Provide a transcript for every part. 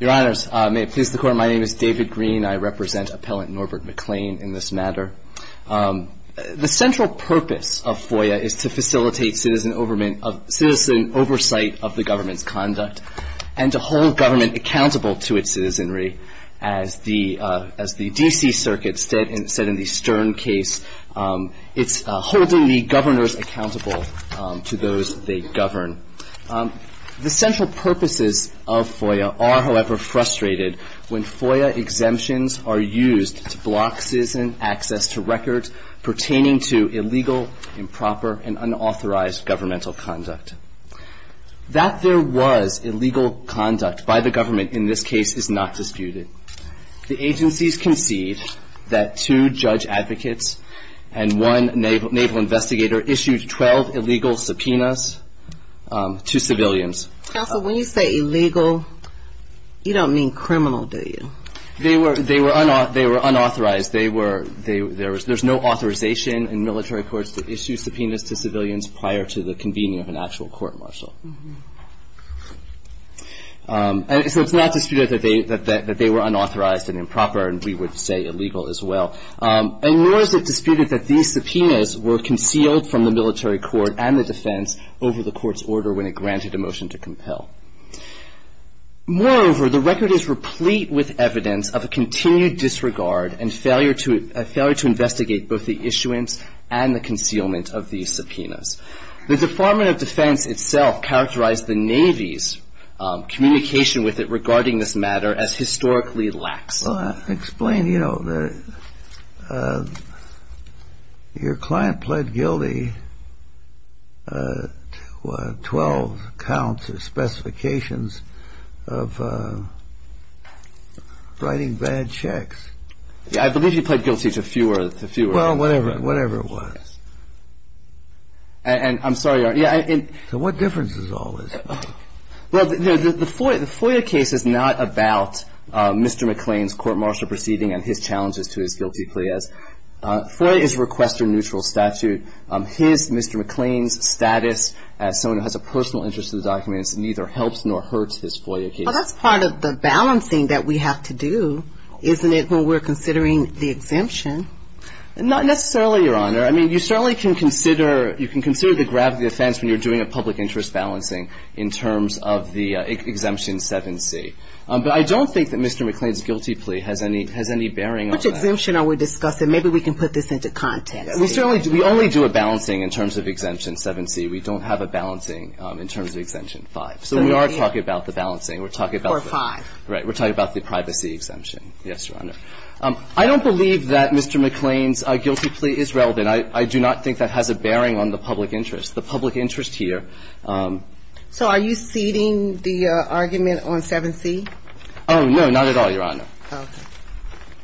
Your Honors, may it please the Court, my name is David Green, I represent Appellant Norbert McLean in this matter. The central purpose of FOIA is to facilitate citizen oversight of the government's conduct and to hold government accountable to its citizenry. As the D.C. Circuit said in the Stern case, it's holding the governors accountable to those they govern. The central purposes of FOIA are, however, frustrated when FOIA exemptions are used to block citizen access to records pertaining to illegal, improper, and unauthorized governmental conduct. That there was illegal conduct by the government in this case is not disputed. The agencies concede that two judge advocates and one naval investigator issued 12 illegal subpoenas to civilians. Counsel, when you say illegal, you don't mean criminal, do you? They were unauthorized. There's no authorization in military courts to issue subpoenas to civilians prior to the convening of an actual court-martial. So it's not disputed that they were unauthorized and improper, and we would say illegal as well. And nor is it disputed that these subpoenas were concealed from the military court and the defense over the court's order when it granted a motion to compel. Moreover, the record is replete with evidence of a continued disregard and failure to investigate both the issuance and the concealment of these subpoenas. The Department of Defense itself characterized the Navy's communication with it regarding this matter as historically lax. Explain, you know, your client pled guilty to 12 counts of specifications of writing bad checks. I believe he pled guilty to fewer. Well, whatever. Whatever it was. And I'm sorry. So what difference does all this make? Well, the FOIA case is not about Mr. McLean's court-martial proceeding and his challenges to his guilty plea. FOIA is a requester-neutral statute. His, Mr. McLean's, status as someone who has a personal interest in the documents neither helps nor hurts his FOIA case. Well, that's part of the balancing that we have to do, isn't it, when we're considering the exemption? Not necessarily, Your Honor. I mean, you certainly can consider the gravity of the offense when you're doing a public interest balancing in terms of the Exemption 7C. But I don't think that Mr. McLean's guilty plea has any bearing on that. Which exemption are we discussing? Maybe we can put this into context. We only do a balancing in terms of Exemption 7C. We don't have a balancing in terms of Exemption 5. So we are talking about the balancing. We're talking about the – Or 5. Right. We're talking about the privacy exemption. Yes, Your Honor. I don't believe that Mr. McLean's guilty plea is relevant. I do not think that has a bearing on the public interest. The public interest here – So are you ceding the argument on 7C? Oh, no, not at all, Your Honor. Okay.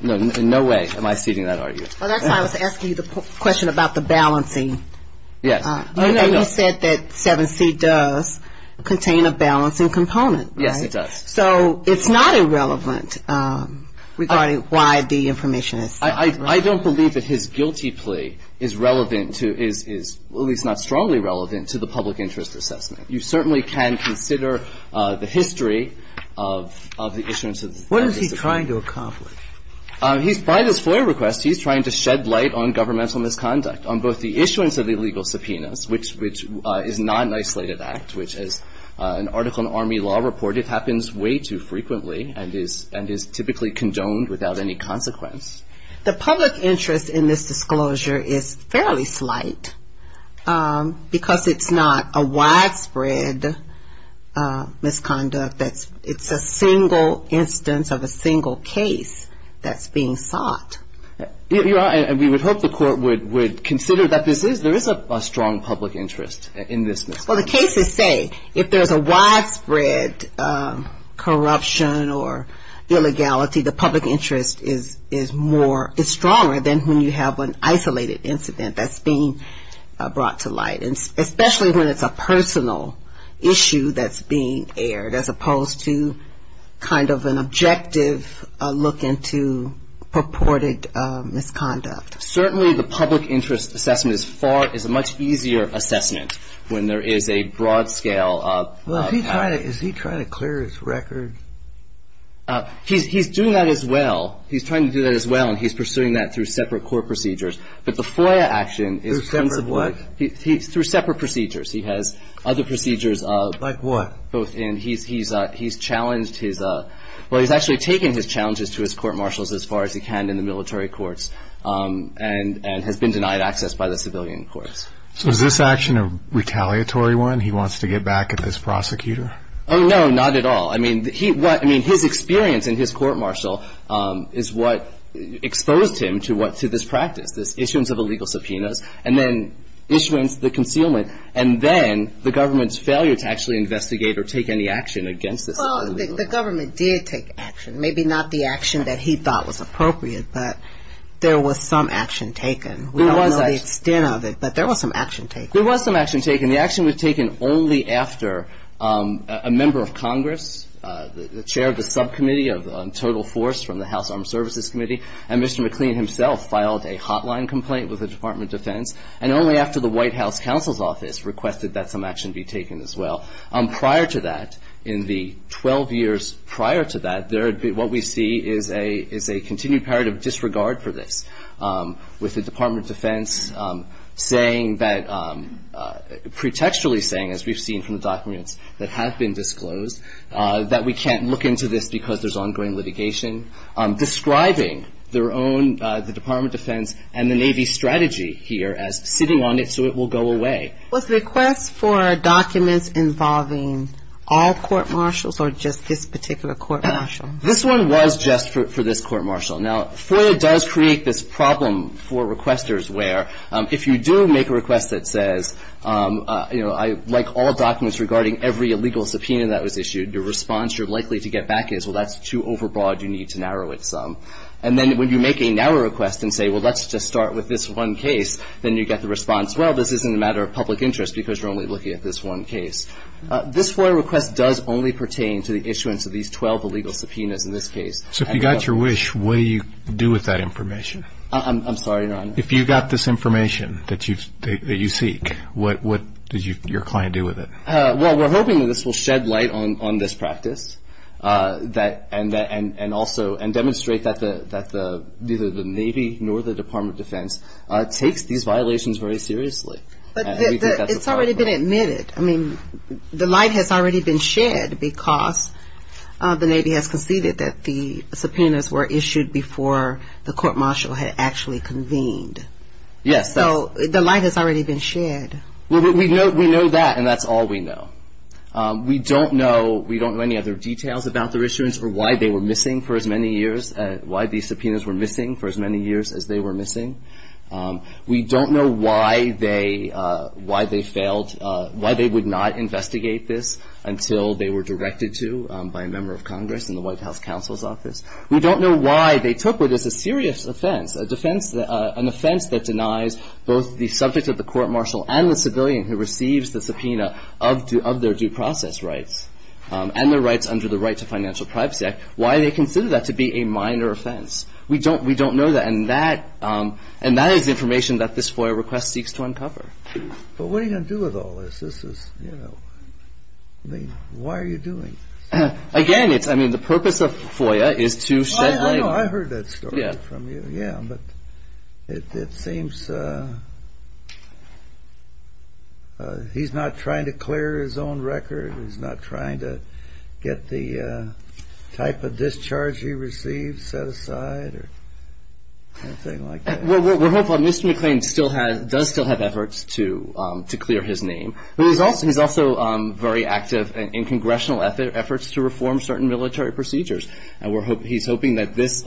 No, in no way am I ceding that argument. Well, that's why I was asking you the question about the balancing. Yes. And you said that 7C does contain a balancing component, right? Yes, it does. So it's not irrelevant regarding why the information is – I don't believe that his guilty plea is relevant to – is at least not strongly relevant to the public interest assessment. You certainly can consider the history of the issuance of the – What is he trying to accomplish? By this FOIA request, he's trying to shed light on governmental misconduct, on both the issuance of the illegal subpoenas, which is not an isolated act, which as an article in Army law reported happens way too frequently and is typically condoned without any consequence. The public interest in this disclosure is fairly slight because it's not a widespread misconduct. It's a single instance of a single case that's being sought. And we would hope the court would consider that this is – there is a strong public interest in this. Well, the cases say if there's a widespread corruption or illegality, the public interest is more – is stronger than when you have an isolated incident that's being brought to light, especially when it's a personal issue that's being aired, as opposed to kind of an objective look into purported misconduct. Certainly the public interest assessment is far – is a much easier assessment when there is a broad scale of – Well, is he trying to clear his record? He's doing that as well. He's trying to do that as well, and he's pursuing that through separate court procedures. But the FOIA action is – Through separate what? Through separate procedures. He has other procedures of – Like what? Both in – he's challenged his – well, he's actually taken his challenges to his court-martials as far as he can in the military courts and has been denied access by the civilian courts. So is this action a retaliatory one? He wants to get back at this prosecutor? Oh, no, not at all. I mean, he – what – I mean, his experience in his court-martial is what exposed him to what – to this practice, this issuance of illegal subpoenas, and then issuance, the concealment, and then the government's failure to actually investigate or take any action against this illegal – Well, the government did take action. Maybe not the action that he thought was appropriate, but there was some action taken. There was – We don't know the extent of it, but there was some action taken. There was some action taken. The action was taken only after a member of Congress, the chair of the subcommittee of total force from the House Armed Services Committee, and Mr. McLean himself filed a hotline complaint with the Department of Defense, and only after the White House Counsel's Office requested that some action be taken as well. Prior to that, in the 12 years prior to that, there – what we see is a – is a continued period of disregard for this, with the Department of Defense saying that – pretextually saying, as we've seen from the documents that have been disclosed, that we can't look into this because there's ongoing litigation, describing their own – the Department of Defense and the Navy's strategy here as sitting on it so it will go away. Was the request for documents involving all court-martials or just this particular court-martial? This one was just for this court-martial. Now, FOIA does create this problem for requesters where if you do make a request that says, you know, I – like all documents regarding every illegal subpoena that was issued, your response you're likely to get back is, well, that's too overbroad, you need to narrow it some. And then when you make a narrow request and say, well, let's just start with this one case, then you get the response, well, this isn't a matter of public interest because you're only looking at this one case. This FOIA request does only pertain to the issuance of these 12 illegal subpoenas in this case. So if you got your wish, what do you do with that information? I'm sorry, Your Honor. If you got this information that you seek, what does your client do with it? Well, we're hoping that this will shed light on this practice and also – and demonstrate that neither the Navy nor the Department of Defense takes these violations very seriously. It's already been admitted. I mean, the light has already been shed because the Navy has conceded that the subpoenas were issued before the court-martial had actually convened. Yes. So the light has already been shed. We know that, and that's all we know. We don't know – we don't know any other details about their issuance or why they were missing for as many years – why these subpoenas were missing for as many years as they were missing. We don't know why they – why they failed – why they would not investigate this until they were directed to by a member of Congress in the White House Counsel's Office. We don't know why they took what is a serious offense, a defense – even the civilian who receives the subpoena of their due process rights and their rights under the Right to Financial Privacy Act – why they consider that to be a minor offense. We don't know that. And that is information that this FOIA request seeks to uncover. But what are you going to do with all this? This is, you know – I mean, why are you doing this? Again, it's – I mean, the purpose of FOIA is to shed light on – Oh, I know. I heard that story from you. Yeah. Yeah, but it seems he's not trying to clear his own record. He's not trying to get the type of discharge he received set aside or anything like that. Well, we're hopeful. Mr. McClain still has – does still have efforts to clear his name. But he's also very active in congressional efforts to reform certain military procedures. And we're – he's hoping that this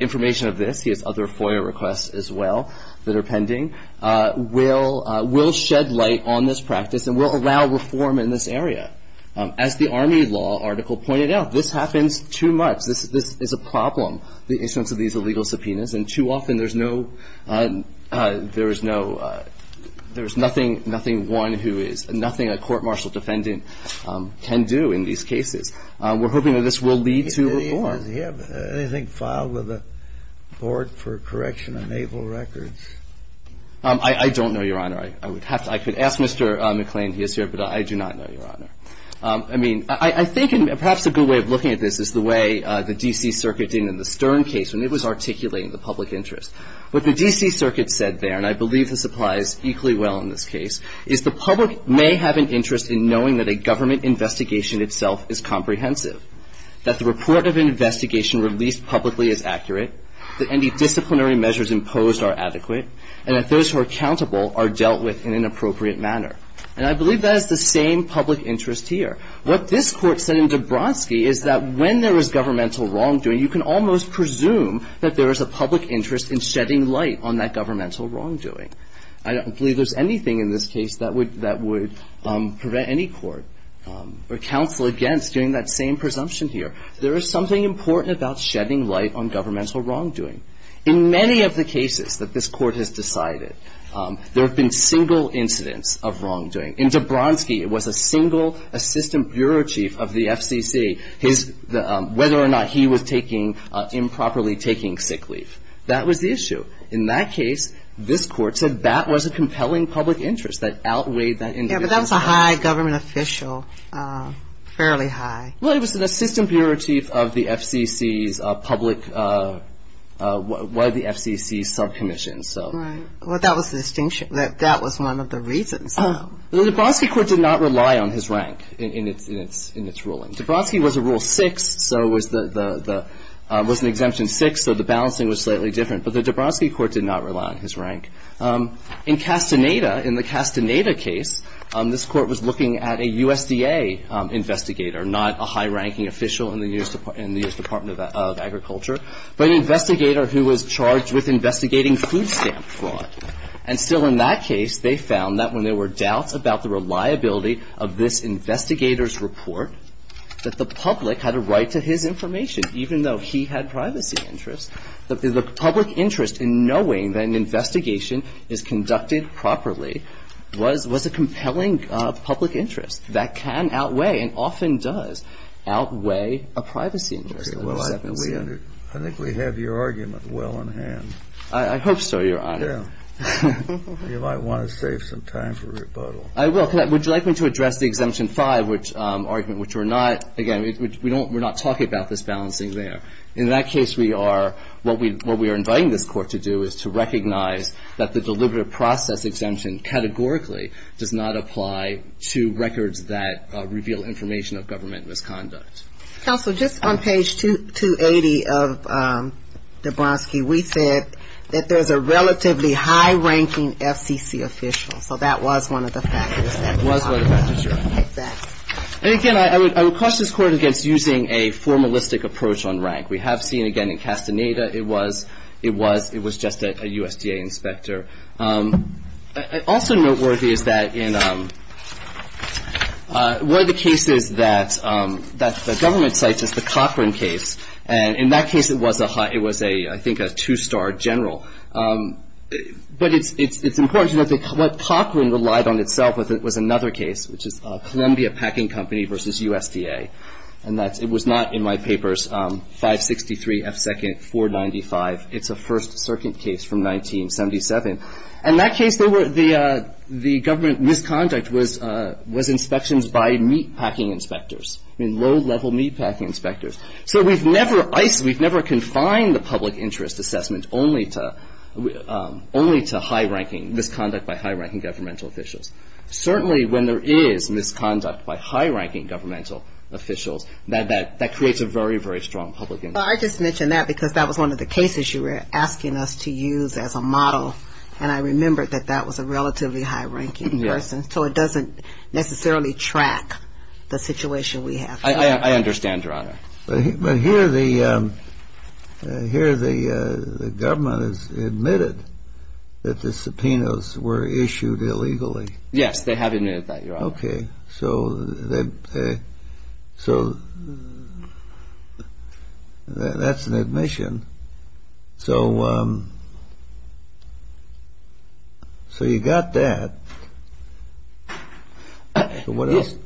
information of this – he has other FOIA requests as well that are pending – will shed light on this practice and will allow reform in this area. As the Army Law article pointed out, this happens too much. This is a problem, the instance of these illegal subpoenas. And too often there's no – there is no – there is nothing one who is – nothing a court-martial defendant can do in these cases. We're hoping that this will lead to reform. Does he have anything filed with the Board for Correction of Naval Records? I don't know, Your Honor. I would have to – I could ask Mr. McClain. He is here. But I do not know, Your Honor. I mean, I think perhaps a good way of looking at this is the way the D.C. Circuit did in the Stern case when it was articulating the public interest. What the D.C. Circuit said there, and I believe this applies equally well in this case, is the public may have an interest in knowing that a government investigation itself is comprehensive, that the report of an investigation released publicly is accurate, that any disciplinary measures imposed are adequate, and that those who are accountable are dealt with in an appropriate manner. And I believe that is the same public interest here. What this Court said in Dabrowski is that when there is governmental wrongdoing, you can almost presume that there is a public interest in shedding light on that governmental wrongdoing. I don't believe there is anything in this case that would prevent any court or counsel against doing that same presumption here. There is something important about shedding light on governmental wrongdoing. In many of the cases that this Court has decided, there have been single incidents of wrongdoing. In Dabrowski, it was a single assistant bureau chief of the FCC, whether or not he was improperly taking sick leave. That was the issue. In that case, this Court said that was a compelling public interest that outweighed that individual. Yeah, but that was a high government official, fairly high. Well, it was an assistant bureau chief of the FCC's public, what are the FCC's subcommissions. Right. Well, that was the distinction. That was one of the reasons. The Dabrowski Court did not rely on his rank in its ruling. Dabrowski was a Rule 6, so it was an Exemption 6, so the balancing was slightly different. But the Dabrowski Court did not rely on his rank. In Castaneda, in the Castaneda case, this Court was looking at a USDA investigator, not a high-ranking official in the U.S. Department of Agriculture, but an investigator who was charged with investigating food stamp fraud. And still in that case, they found that when there were doubts about the reliability of this investigator's report, that the public had a right to his information, even though he had privacy interests. The public interest in knowing that an investigation is conducted properly was a compelling public interest. That can outweigh and often does outweigh a privacy interest. Well, I think we have your argument well in hand. I hope so, Your Honor. Yeah. You might want to save some time for rebuttal. I will. Would you like me to address the Exemption 5 argument, which we're not, again, we're not talking about this balancing there. In that case, we are, what we are inviting this Court to do is to recognize that the Deliberative Process Exemption categorically does not apply to records that reveal information of government misconduct. Counsel, just on page 280 of Dabrowski, we said that there's a relatively high-ranking FCC official. So that was one of the factors. It was one of the factors, Your Honor. Exactly. And, again, I would cross this Court against using a formalistic approach on rank. We have seen, again, in Castaneda, it was just a USDA inspector. Also noteworthy is that in one of the cases that the government cites is the Cochran case. And in that case, it was a, I think, a two-star general. But it's important to note that what Cochran relied on itself was another case, which is Columbia Packing Company v. USDA. And it was not, in my papers, 563 F. Second, 495. It's a First Circuit case from 1977. In that case, the government misconduct was inspections by meatpacking inspectors, I mean low-level meatpacking inspectors. So we've never confined the public interest assessment only to high-ranking, misconduct by high-ranking governmental officials. Certainly when there is misconduct by high-ranking governmental officials, that creates a very, very strong public interest. Well, I just mentioned that because that was one of the cases you were asking us to use as a model. And I remembered that that was a relatively high-ranking person. So it doesn't necessarily track the situation we have. I understand, Your Honor. But here the government has admitted that the subpoenas were issued illegally. Yes, they have admitted that, Your Honor. Okay. So that's an admission. So you got that. What else?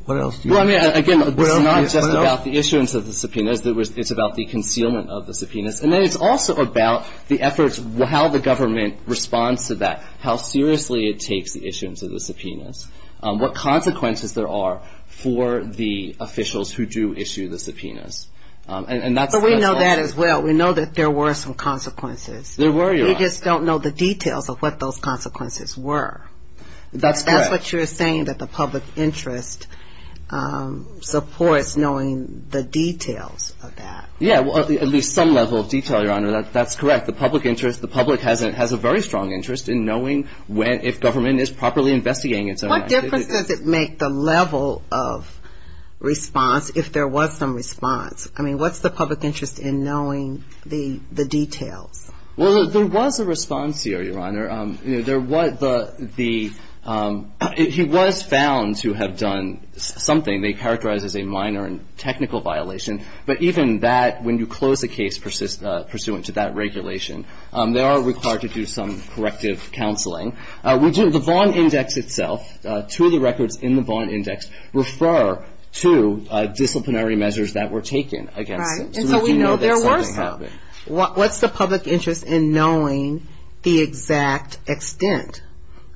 Well, I mean, again, it's not just about the issuance of the subpoenas. It's about the concealment of the subpoenas. And then it's also about the efforts, how the government responds to that, how seriously it takes the issuance of the subpoenas, what consequences there are for the officials who do issue the subpoenas. But we know that as well. We know that there were some consequences. There were, Your Honor. We just don't know the details of what those consequences were. That's correct. But you're saying that the public interest supports knowing the details of that. Yeah, at least some level of detail, Your Honor. That's correct. The public interest, the public has a very strong interest in knowing if government is properly investigating its own actions. What difference does it make, the level of response, if there was some response? I mean, what's the public interest in knowing the details? Well, there was a response here, Your Honor. He was found to have done something. They characterize as a minor and technical violation. But even that, when you close a case pursuant to that regulation, they are required to do some corrective counseling. The Vaughn Index itself, two of the records in the Vaughn Index, refer to disciplinary measures that were taken against him. Right. And so we know there were some. What's the public interest in knowing the exact extent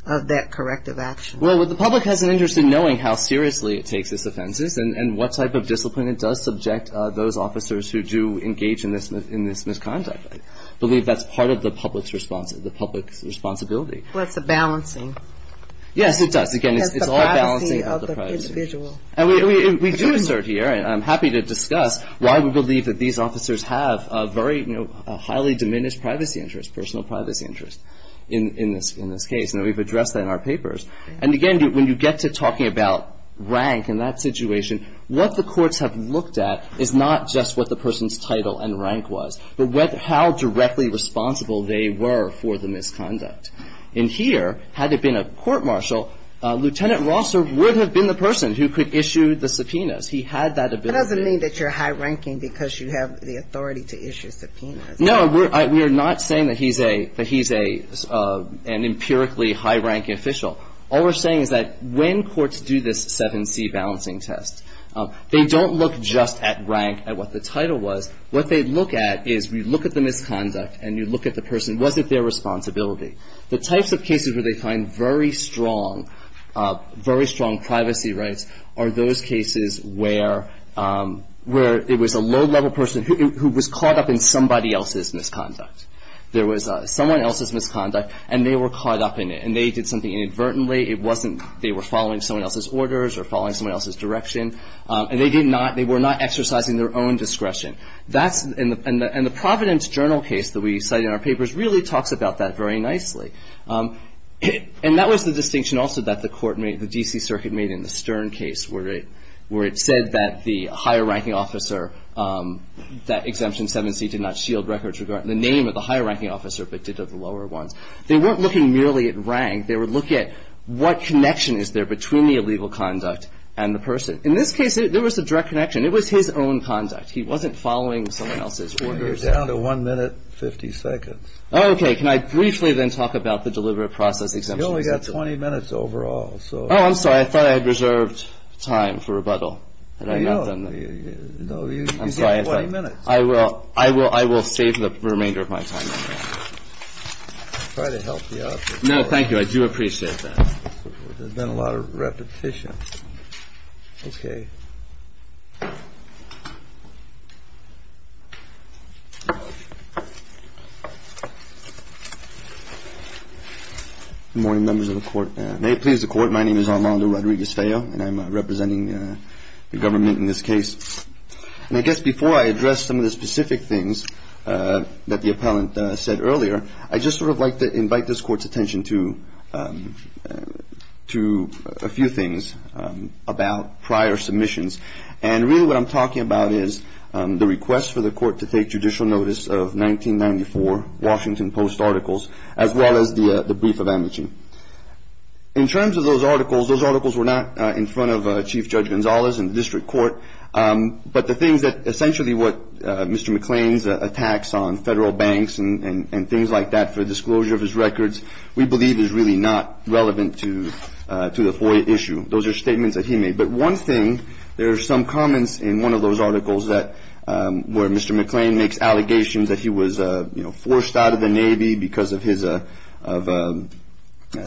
of that corrective action? Well, the public has an interest in knowing how seriously it takes its offenses and what type of discipline it does subject those officers who do engage in this misconduct. I believe that's part of the public's responsibility. Well, it's a balancing. Yes, it does. Again, it's all a balancing of the privacy. It's the privacy of the individual. And we do assert here, and I'm happy to discuss, why we believe that these officers have a very, you know, highly diminished privacy interest, personal privacy interest in this case. And we've addressed that in our papers. And again, when you get to talking about rank in that situation, what the courts have looked at is not just what the person's title and rank was, but how directly responsible they were for the misconduct. And here, had it been a court martial, Lieutenant Rosser would have been the person who could issue the subpoenas. He had that ability. That doesn't mean that you're high-ranking because you have the authority to issue subpoenas. No, we're not saying that he's an empirically high-ranking official. All we're saying is that when courts do this 7C balancing test, they don't look just at rank, at what the title was. What they look at is we look at the misconduct, and you look at the person. Was it their responsibility? The types of cases where they find very strong privacy rights are those cases where it was a low-level person who was caught up in somebody else's misconduct. There was someone else's misconduct, and they were caught up in it, and they did something inadvertently. It wasn't they were following someone else's orders or following someone else's direction, and they were not exercising their own discretion. And the Providence Journal case that we cite in our papers really talks about that very nicely. And that was the distinction also that the court made, the D.C. Circuit made in the Stern case where it said that the higher-ranking officer, that Exemption 7C did not shield records regarding the name of the higher-ranking officer, but did of the lower ones. They weren't looking merely at rank. They would look at what connection is there between the illegal conduct and the person. In this case, there was a direct connection. It was his own conduct. He wasn't following someone else's orders. You're down to one minute, 50 seconds. Okay. Can I briefly then talk about the deliberate process exemption? You've only got 20 minutes overall. Oh, I'm sorry. I thought I had reserved time for rebuttal. No, you've got 20 minutes. I'm sorry. I will save the remainder of my time on that. I'll try to help you out. No, thank you. I do appreciate that. There's been a lot of repetition. Okay. Good morning, members of the Court. May it please the Court, my name is Armando Rodriguez-Feo, and I'm representing the government in this case. And I guess before I address some of the specific things that the appellant said earlier, I'd just sort of like to invite this Court's attention to a few things about prior submissions. And really what I'm talking about is the request for the Court to take judicial notice of 1994 Washington Post articles, as well as the brief of amnesty. In terms of those articles, those articles were not in front of Chief Judge Gonzalez in the district court, but the things that essentially what Mr. McClain's attacks on federal banks and things like that for disclosure of his records we believe is really not relevant to the FOIA issue. Those are statements that he made. But one thing, there are some comments in one of those articles where Mr. McClain makes allegations that he was, you know, forced out of the Navy because of his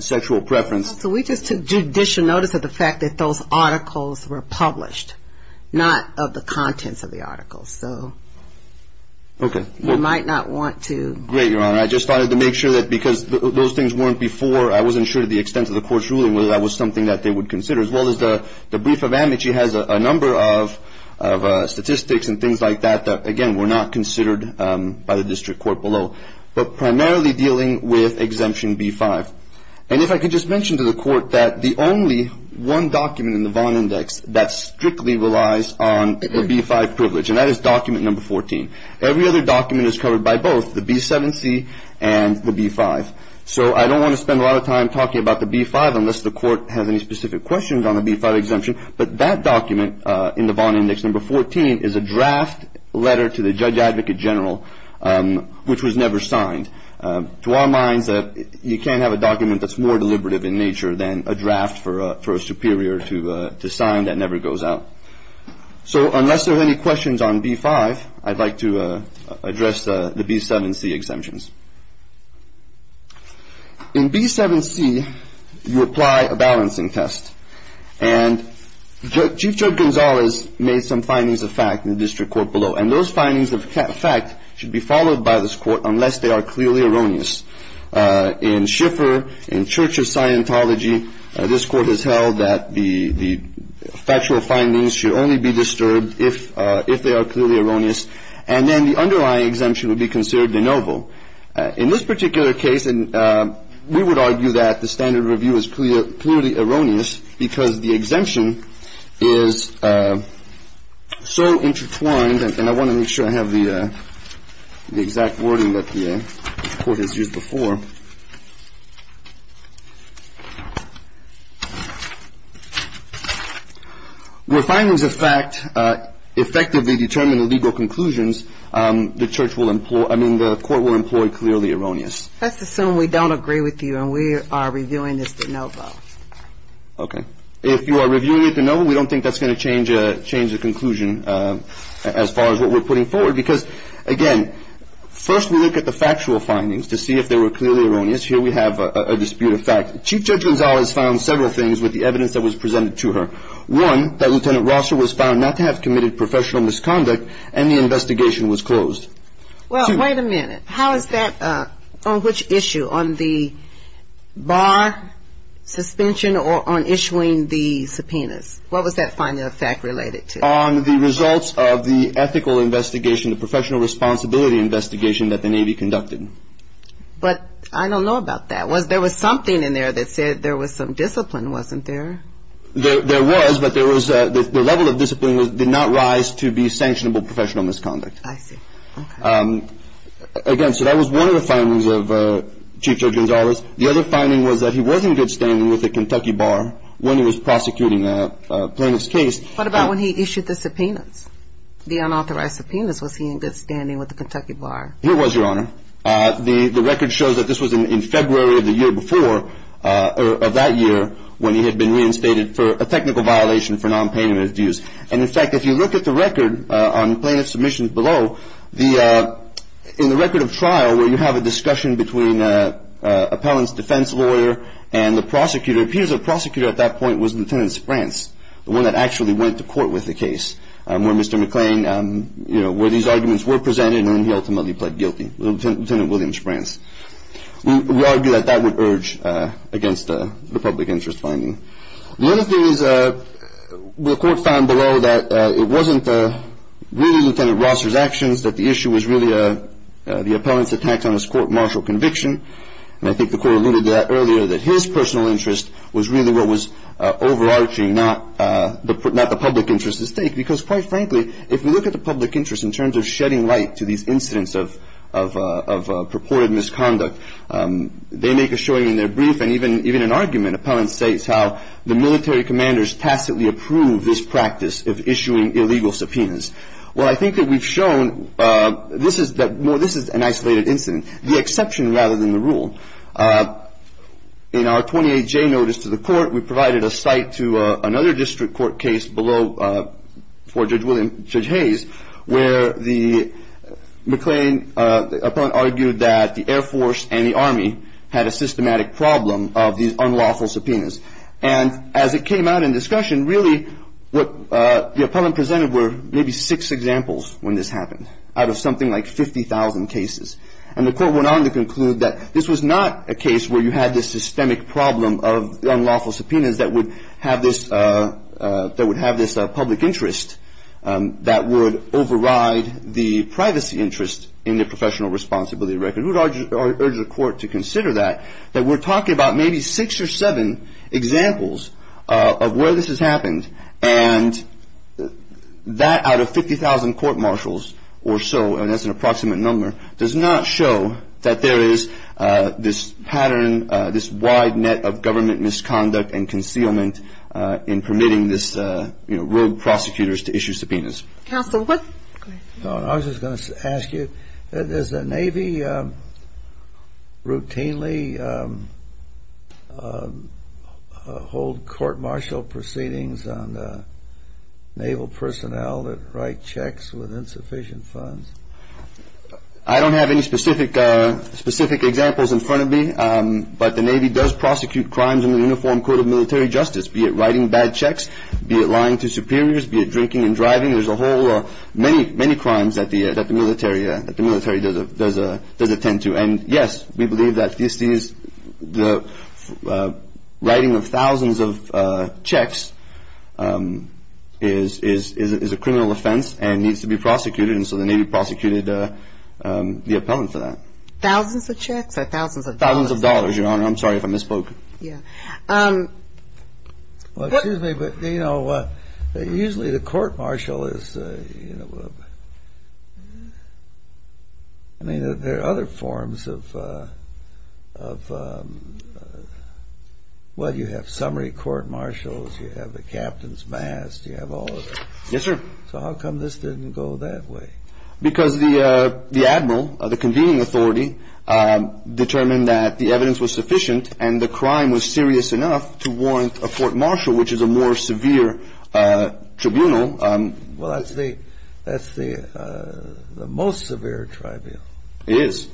sexual preference. So we just took judicial notice of the fact that those articles were published, not of the contents of the articles. So you might not want to. Great, Your Honor. I just wanted to make sure that because those things weren't before, I wasn't sure to the extent of the Court's ruling whether that was something that they would consider, as well as the brief of amnesty has a number of statistics and things like that that, again, were not considered by the district court below, but primarily dealing with Exemption B-5. And if I could just mention to the Court that the only one document in the Vaughn Index that strictly relies on the B-5 privilege, and that is document number 14. Every other document is covered by both, the B-7C and the B-5. So I don't want to spend a lot of time talking about the B-5 unless the Court has any specific questions on the B-5 exemption. But that document in the Vaughn Index, number 14, is a draft letter to the Judge Advocate General, which was never signed. To our minds, you can't have a document that's more deliberative in nature than a draft for a superior to sign that never goes out. So unless there are any questions on B-5, I'd like to address the B-7C exemptions. In B-7C, you apply a balancing test. And Chief Judge Gonzalez made some findings of fact in the district court below, and those findings of fact should be followed by this Court unless they are clearly erroneous. In Schiffer, in Church of Scientology, this Court has held that the factual findings should only be disturbed if they are clearly erroneous. And then the underlying exemption would be considered de novo. In this particular case, we would argue that the standard review is clearly erroneous because the exemption is so intertwined, and I want to make sure I have the exact wording that the Court has used before. Where findings of fact effectively determine the legal conclusions, the Court will employ clearly erroneous. Let's assume we don't agree with you and we are reviewing this de novo. Okay. If you are reviewing it de novo, we don't think that's going to change the conclusion as far as what we're putting forward. Because, again, first we look at the factual findings to see if they were clearly erroneous. Here we have a dispute of fact. Chief Judge Gonzalez found several things with the evidence that was presented to her. One, that Lieutenant Rosser was found not to have committed professional misconduct and the investigation was closed. Well, wait a minute. How is that on which issue, on the bar suspension or on issuing the subpoenas? What was that finding of fact related to? On the results of the ethical investigation, the professional responsibility investigation that the Navy conducted. But I don't know about that. There was something in there that said there was some discipline, wasn't there? There was, but the level of discipline did not rise to be sanctionable professional misconduct. I see. Okay. Again, so that was one of the findings of Chief Judge Gonzalez. The other finding was that he was in good standing with the Kentucky Bar when he was prosecuting the plaintiff's case. What about when he issued the subpoenas, the unauthorized subpoenas? Was he in good standing with the Kentucky Bar? He was, Your Honor. The record shows that this was in February of the year before, of that year, when he had been reinstated for a technical violation for nonpayment of dues. And, in fact, if you look at the record on plaintiff's submissions below, in the record of trial, where you have a discussion between an appellant's defense lawyer and the prosecutor, it appears the prosecutor at that point was Lieutenant Sprantz, the one that actually went to court with the case, where Mr. McClain, you know, where these arguments were presented and he ultimately pled guilty, Lieutenant William Sprantz. We argue that that would urge against the public interest finding. The other thing is the court found below that it wasn't really Lieutenant Rosser's actions, that the issue was really the appellant's attack on his court martial conviction. And I think the court alluded to that earlier, that his personal interest was really what was overarching, not the public interest at stake. Because, quite frankly, if we look at the public interest in terms of shedding light to these incidents of purported misconduct, they make a showing in their brief and even an argument, appellant states how the military commanders tacitly approve this practice of issuing illegal subpoenas. Well, I think that we've shown that this is an isolated incident, the exception rather than the rule. In our 28J notice to the court, we provided a cite to another district court case below for Judge Hayes, where the McLean appellant argued that the Air Force and the Army had a systematic problem of these unlawful subpoenas. And as it came out in discussion, really what the appellant presented were maybe six examples when this happened, out of something like 50,000 cases. And the court went on to conclude that this was not a case where you had this systemic problem of unlawful subpoenas that would have this public interest that would override the privacy interest in the professional responsibility record. We would urge the court to consider that, that we're talking about maybe six or seven examples of where this has happened. And that out of 50,000 court-martials or so, and that's an approximate number, does not show that there is this pattern, this wide net of government misconduct and concealment in permitting this, you know, rogue prosecutors to issue subpoenas. Counsel, what? I was just going to ask you, does the Navy routinely hold court-martial proceedings on Naval personnel that write checks with insufficient funds? I don't have any specific examples in front of me, but the Navy does prosecute crimes in the Uniform Code of Military Justice, be it writing bad checks, be it lying to superiors, be it drinking and driving. There's a whole many, many crimes that the military does attend to. And, yes, we believe that the writing of thousands of checks is a criminal offense and needs to be prosecuted. And so the Navy prosecuted the appellant for that. Thousands of checks or thousands of dollars? Thousands of dollars, Your Honor. Yeah. Well, excuse me, but, you know, usually the court-martial is, you know, I mean, there are other forms of, well, you have summary court-martials, you have the captain's mast, you have all of it. Yes, sir. So how come this didn't go that way? Because the admiral, the convening authority, determined that the evidence was sufficient and the crime was serious enough to warrant a court-martial, which is a more severe tribunal. Well, that's the most severe tribunal. It is.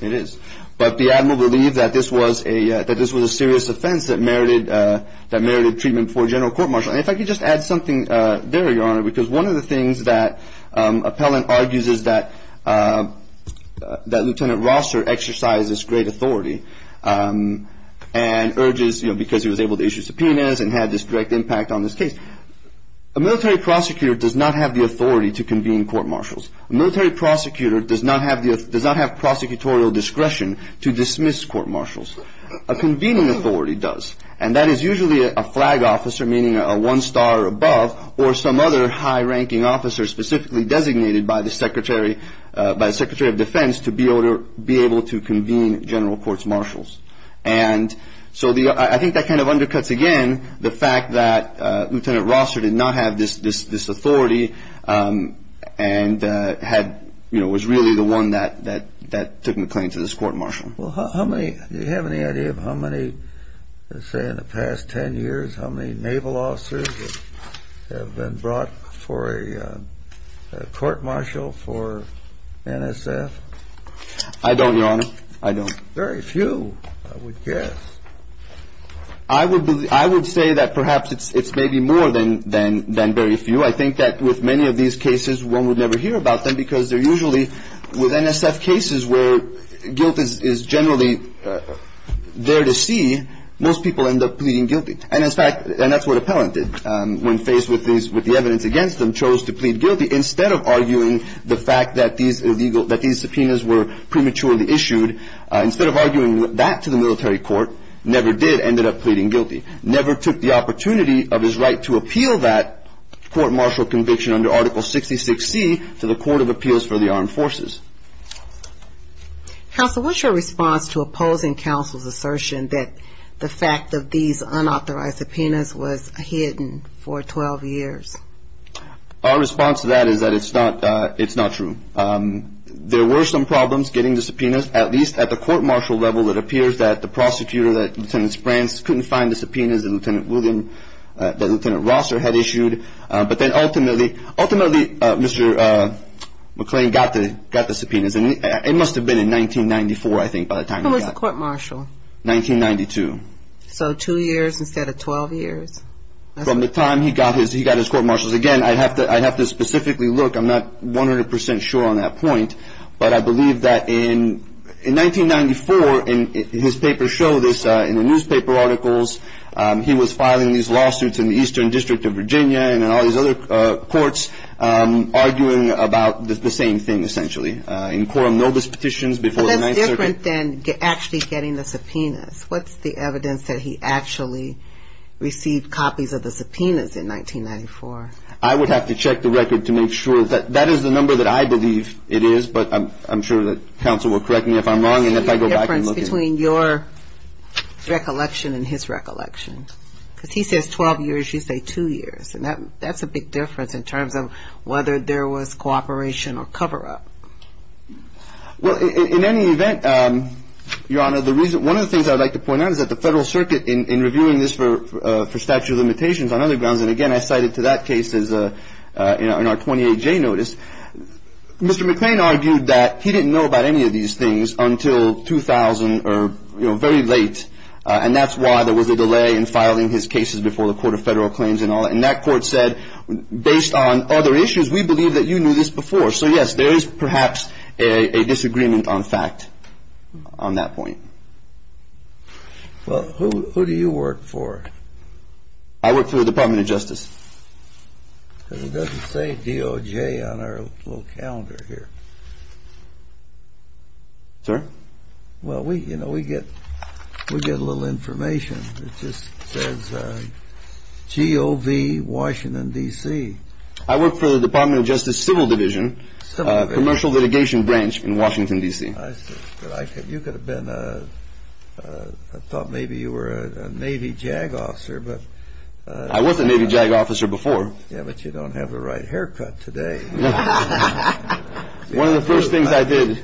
It is. But the admiral believed that this was a serious offense that merited treatment before a general court-martial. And if I could just add something there, Your Honor, because one of the things that appellant argues is that that Lieutenant Rosser exercised this great authority and urges, you know, because he was able to issue subpoenas and had this direct impact on this case. A military prosecutor does not have the authority to convene court-martials. A military prosecutor does not have prosecutorial discretion to dismiss court-martials. A convening authority does. And that is usually a flag officer, meaning a one-star or above, or some other high-ranking officer specifically designated by the Secretary of Defense to be able to convene general court-martials. And so I think that kind of undercuts, again, the fact that Lieutenant Rosser did not have this authority and was really the one that took McLean to this court-martial. Well, do you have any idea of how many, say, in the past 10 years, how many naval officers have been brought for a court-martial for NSF? I don't, Your Honor. I don't. Very few, I would guess. I would say that perhaps it's maybe more than very few. I think that with many of these cases, one would never hear about them because they're usually with NSF cases where guilt is generally there to see, most people end up pleading guilty. And, in fact, that's what Appellant did when faced with the evidence against him, chose to plead guilty instead of arguing the fact that these subpoenas were prematurely issued. Instead of arguing that to the military court, never did, ended up pleading guilty. Never took the opportunity of his right to appeal that court-martial conviction under Article 66C to the Court of Appeals for the Armed Forces. Counsel, what's your response to opposing counsel's assertion that the fact of these unauthorized subpoenas was hidden for 12 years? Our response to that is that it's not true. There were some problems getting the subpoenas, at least at the court-martial level. It appears that the prosecutor, that Lieutenant Sprantz, couldn't find the subpoenas that Lieutenant Rosser had issued. But then, ultimately, Mr. McClain got the subpoenas. It must have been in 1994, I think, by the time he got it. When was the court-martial? 1992. So two years instead of 12 years. From the time he got his court-martials. Again, I'd have to specifically look. I'm not 100% sure on that point. But I believe that in 1994, and his papers show this in the newspaper articles, he was filing these lawsuits in the Eastern District of Virginia and all these other courts, arguing about the same thing, essentially, in quorum notice petitions before the Ninth Circuit. But that's different than actually getting the subpoenas. What's the evidence that he actually received copies of the subpoenas in 1994? I would have to check the record to make sure. That is the number that I believe it is. But I'm sure that counsel will correct me if I'm wrong. And if I go back and look at it. What's the difference between your recollection and his recollection? Because he says 12 years. You say two years. And that's a big difference in terms of whether there was cooperation or cover-up. Well, in any event, Your Honor, one of the things I'd like to point out is that the Federal Circuit, in reviewing this for statute of limitations on other grounds, and again I cited to that case in our 28J notice, Mr. McClain argued that he didn't know about any of these things until 2000 or very late. And that's why there was a delay in filing his cases before the Court of Federal Claims and all that. And that court said, based on other issues, we believe that you knew this before. So, yes, there is perhaps a disagreement on fact on that point. Well, who do you work for? I work for the Department of Justice. Because it doesn't say DOJ on our little calendar here. Sir? Well, you know, we get a little information. It just says GOV Washington, D.C. I work for the Department of Justice Civil Division. Commercial litigation branch in Washington, D.C. You could have been, I thought maybe you were a Navy JAG officer. I was a Navy JAG officer before. Yeah, but you don't have the right haircut today. One of the first things I did,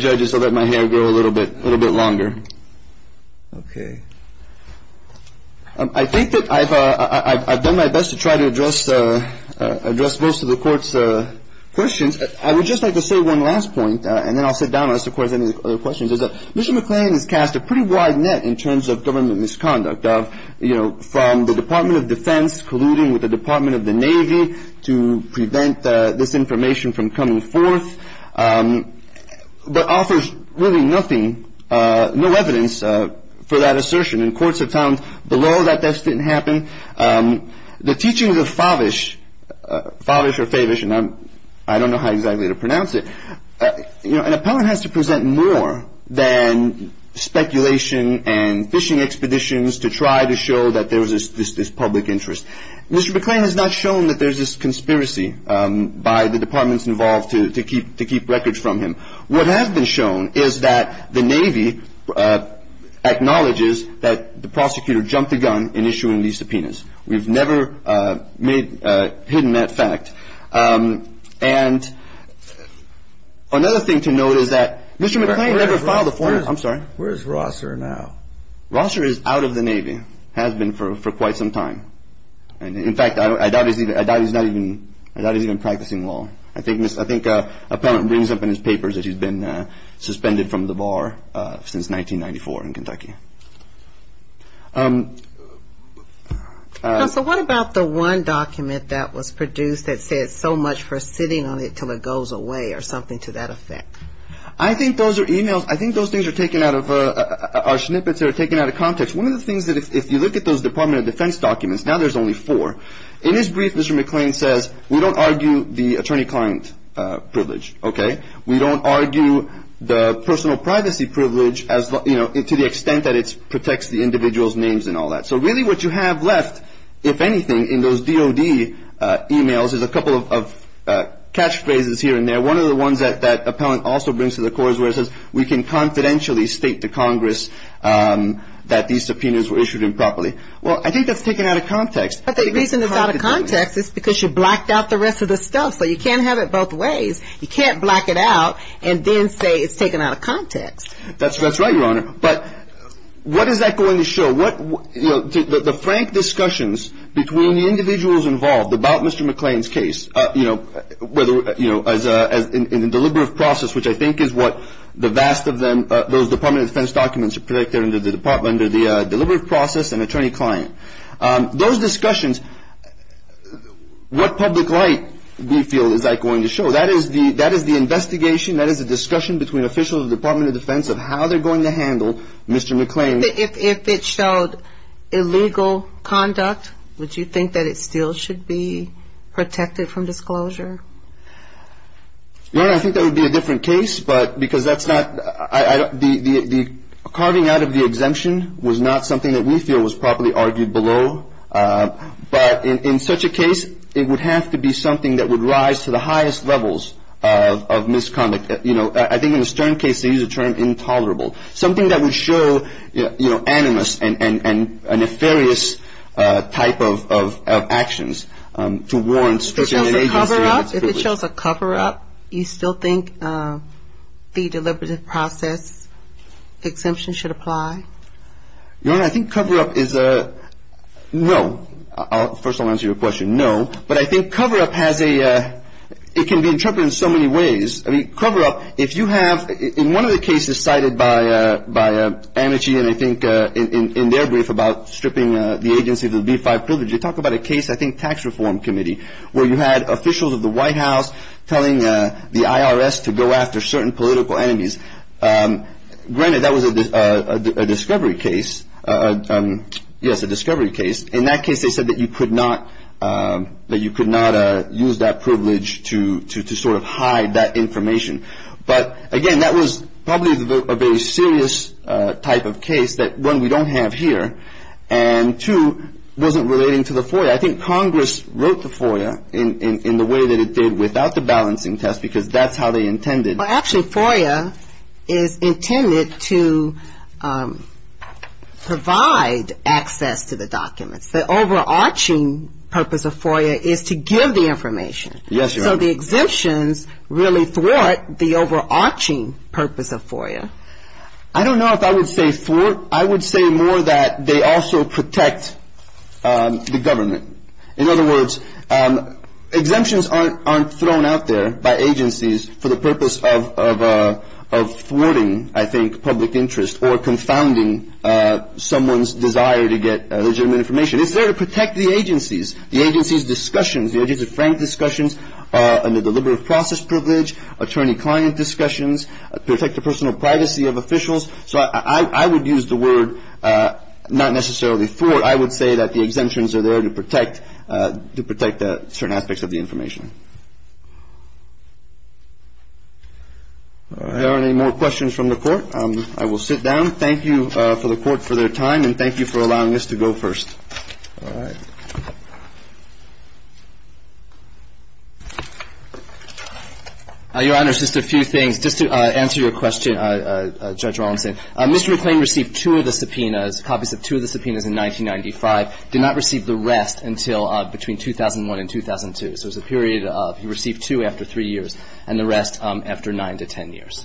judges, was let my hair grow a little bit longer. Okay. I think that I've done my best to try to address most of the Court's questions. I would just like to say one last point, and then I'll sit down and ask the Court any other questions. Mr. McLean has cast a pretty wide net in terms of government misconduct, you know, from the Department of Defense colluding with the Department of the Navy to prevent this information from coming forth, but offers really nothing, no evidence for that assertion. And courts have found below that that didn't happen. The teachings of Favish, Favish or Favish, and I don't know how exactly to pronounce it, an appellant has to present more than speculation and fishing expeditions to try to show that there was this public interest. Mr. McLean has not shown that there's this conspiracy by the departments involved to keep records from him. What has been shown is that the Navy acknowledges that the prosecutor jumped the gun in issuing these subpoenas. We've never made hidden that fact. And another thing to note is that Mr. McLean never filed a form. I'm sorry. Where's Rosser now? Rosser is out of the Navy, has been for quite some time. In fact, I doubt he's even practicing law. I think an appellant brings up in his papers that he's been suspended from the bar since 1994 in Kentucky. Counsel, what about the one document that was produced that said so much for sitting on it until it goes away or something to that effect? I think those are e-mails. I think those things are taken out of our snippets that are taken out of context. One of the things that if you look at those Department of Defense documents, now there's only four. In his brief, Mr. McLean says, we don't argue the attorney-client privilege. We don't argue the personal privacy privilege to the extent that it protects the individual's names and all that. So really what you have left, if anything, in those DOD e-mails is a couple of catchphrases here and there. One of the ones that that appellant also brings to the court is where it says, we can confidentially state to Congress that these subpoenas were issued improperly. Well, I think that's taken out of context. But the reason it's out of context is because you blacked out the rest of the stuff. So you can't have it both ways. You can't black it out and then say it's taken out of context. That's right, Your Honor. But what is that going to show? The frank discussions between the individuals involved about Mr. McLean's case, in the deliberative process, which I think is what the vast of them, those Department of Defense documents are protected under the deliberative process and attorney-client. Those discussions, what public light, we feel, is that going to show? That is the investigation. That is the discussion between officials of the Department of Defense of how they're going to handle Mr. McLean. If it showed illegal conduct, would you think that it still should be protected from disclosure? Your Honor, I think that would be a different case, but because that's not the carving out of the exemption was not something that we feel was properly argued below. But in such a case, it would have to be something that would rise to the highest levels of misconduct. You know, I think in the Stern case, they use the term intolerable, something that would show, you know, animus and a nefarious type of actions to warrants. If it shows a cover-up, you still think the deliberative process exemption should apply? Your Honor, I think cover-up is a no. First, I'll answer your question, no. But I think cover-up has a, it can be interpreted in so many ways. I mean, cover-up, if you have, in one of the cases cited by Amnesty and I think in their brief about stripping the agency of the B-5 privilege, they talk about a case, I think Tax Reform Committee, where you had officials of the White House telling the IRS to go after certain political enemies. Granted, that was a discovery case. Yes, a discovery case. In that case, they said that you could not use that privilege to sort of hide that information. But again, that was probably a very serious type of case that, one, we don't have here, and two, wasn't relating to the FOIA. I think Congress wrote the FOIA in the way that it did without the balancing test because that's how they intended. Well, actually, FOIA is intended to provide access to the documents. The overarching purpose of FOIA is to give the information. Yes, Your Honor. So the exemptions really thwart the overarching purpose of FOIA. I don't know if I would say thwart. I would say more that they also protect the government. In other words, exemptions aren't thrown out there by agencies for the purpose of thwarting, I think, public interest or confounding someone's desire to get legitimate information. It's there to protect the agencies, the agency's discussions, the agency's frank discussions, and the deliberative process privilege, attorney-client discussions, protect the personal privacy of officials. So I would use the word not necessarily thwart. I would say that the exemptions are there to protect certain aspects of the information. Are there any more questions from the Court? I will sit down. Thank you to the Court for their time, and thank you for allowing us to go first. All right. Your Honor, just a few things. Just to answer your question, Judge Rawlinson, Mr. McClain received two of the subpoenas, copies of two of the subpoenas, in 1995, did not receive the rest until between 2001 and 2002. So it was a period of he received two after three years and the rest after nine to ten years.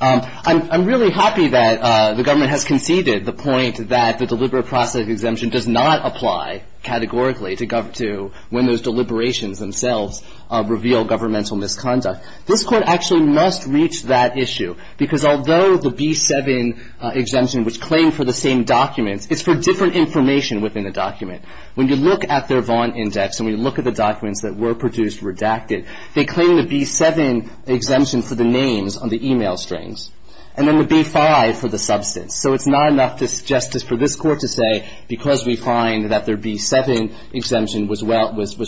I'm really happy that the government has conceded the point that the deliberative process exemption does not apply categorically to when those deliberations themselves reveal governmental misconduct. This Court actually must reach that issue because although the B-7 exemption was claimed for the same documents, it's for different information within the document. When you look at their Vaughan Index and we look at the documents that were produced redacted, they claim the B-7 exemption for the names on the e-mail strings, and then the B-5 for the substance. So it's not enough just for this Court to say because we find that their B-7 exemption was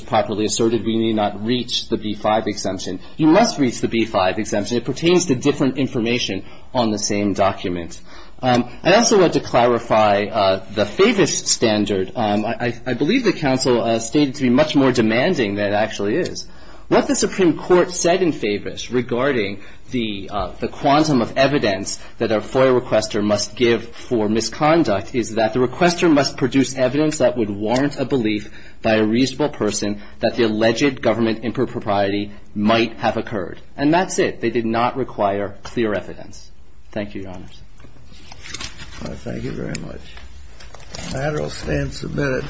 properly asserted, we need not reach the B-5 exemption. You must reach the B-5 exemption. It pertains to different information on the same document. I also want to clarify the Favis standard. I believe the counsel stated to be much more demanding than it actually is. What the Supreme Court said in Favis regarding the quantum of evidence that a FOIA requester must give for misconduct is that the requester must produce evidence that would warrant a belief by a reasonable person that the alleged government impropriety might have occurred. And that's it. They did not require clear evidence. Thank you, Your Honors. Thank you very much. The matter will stand submitted.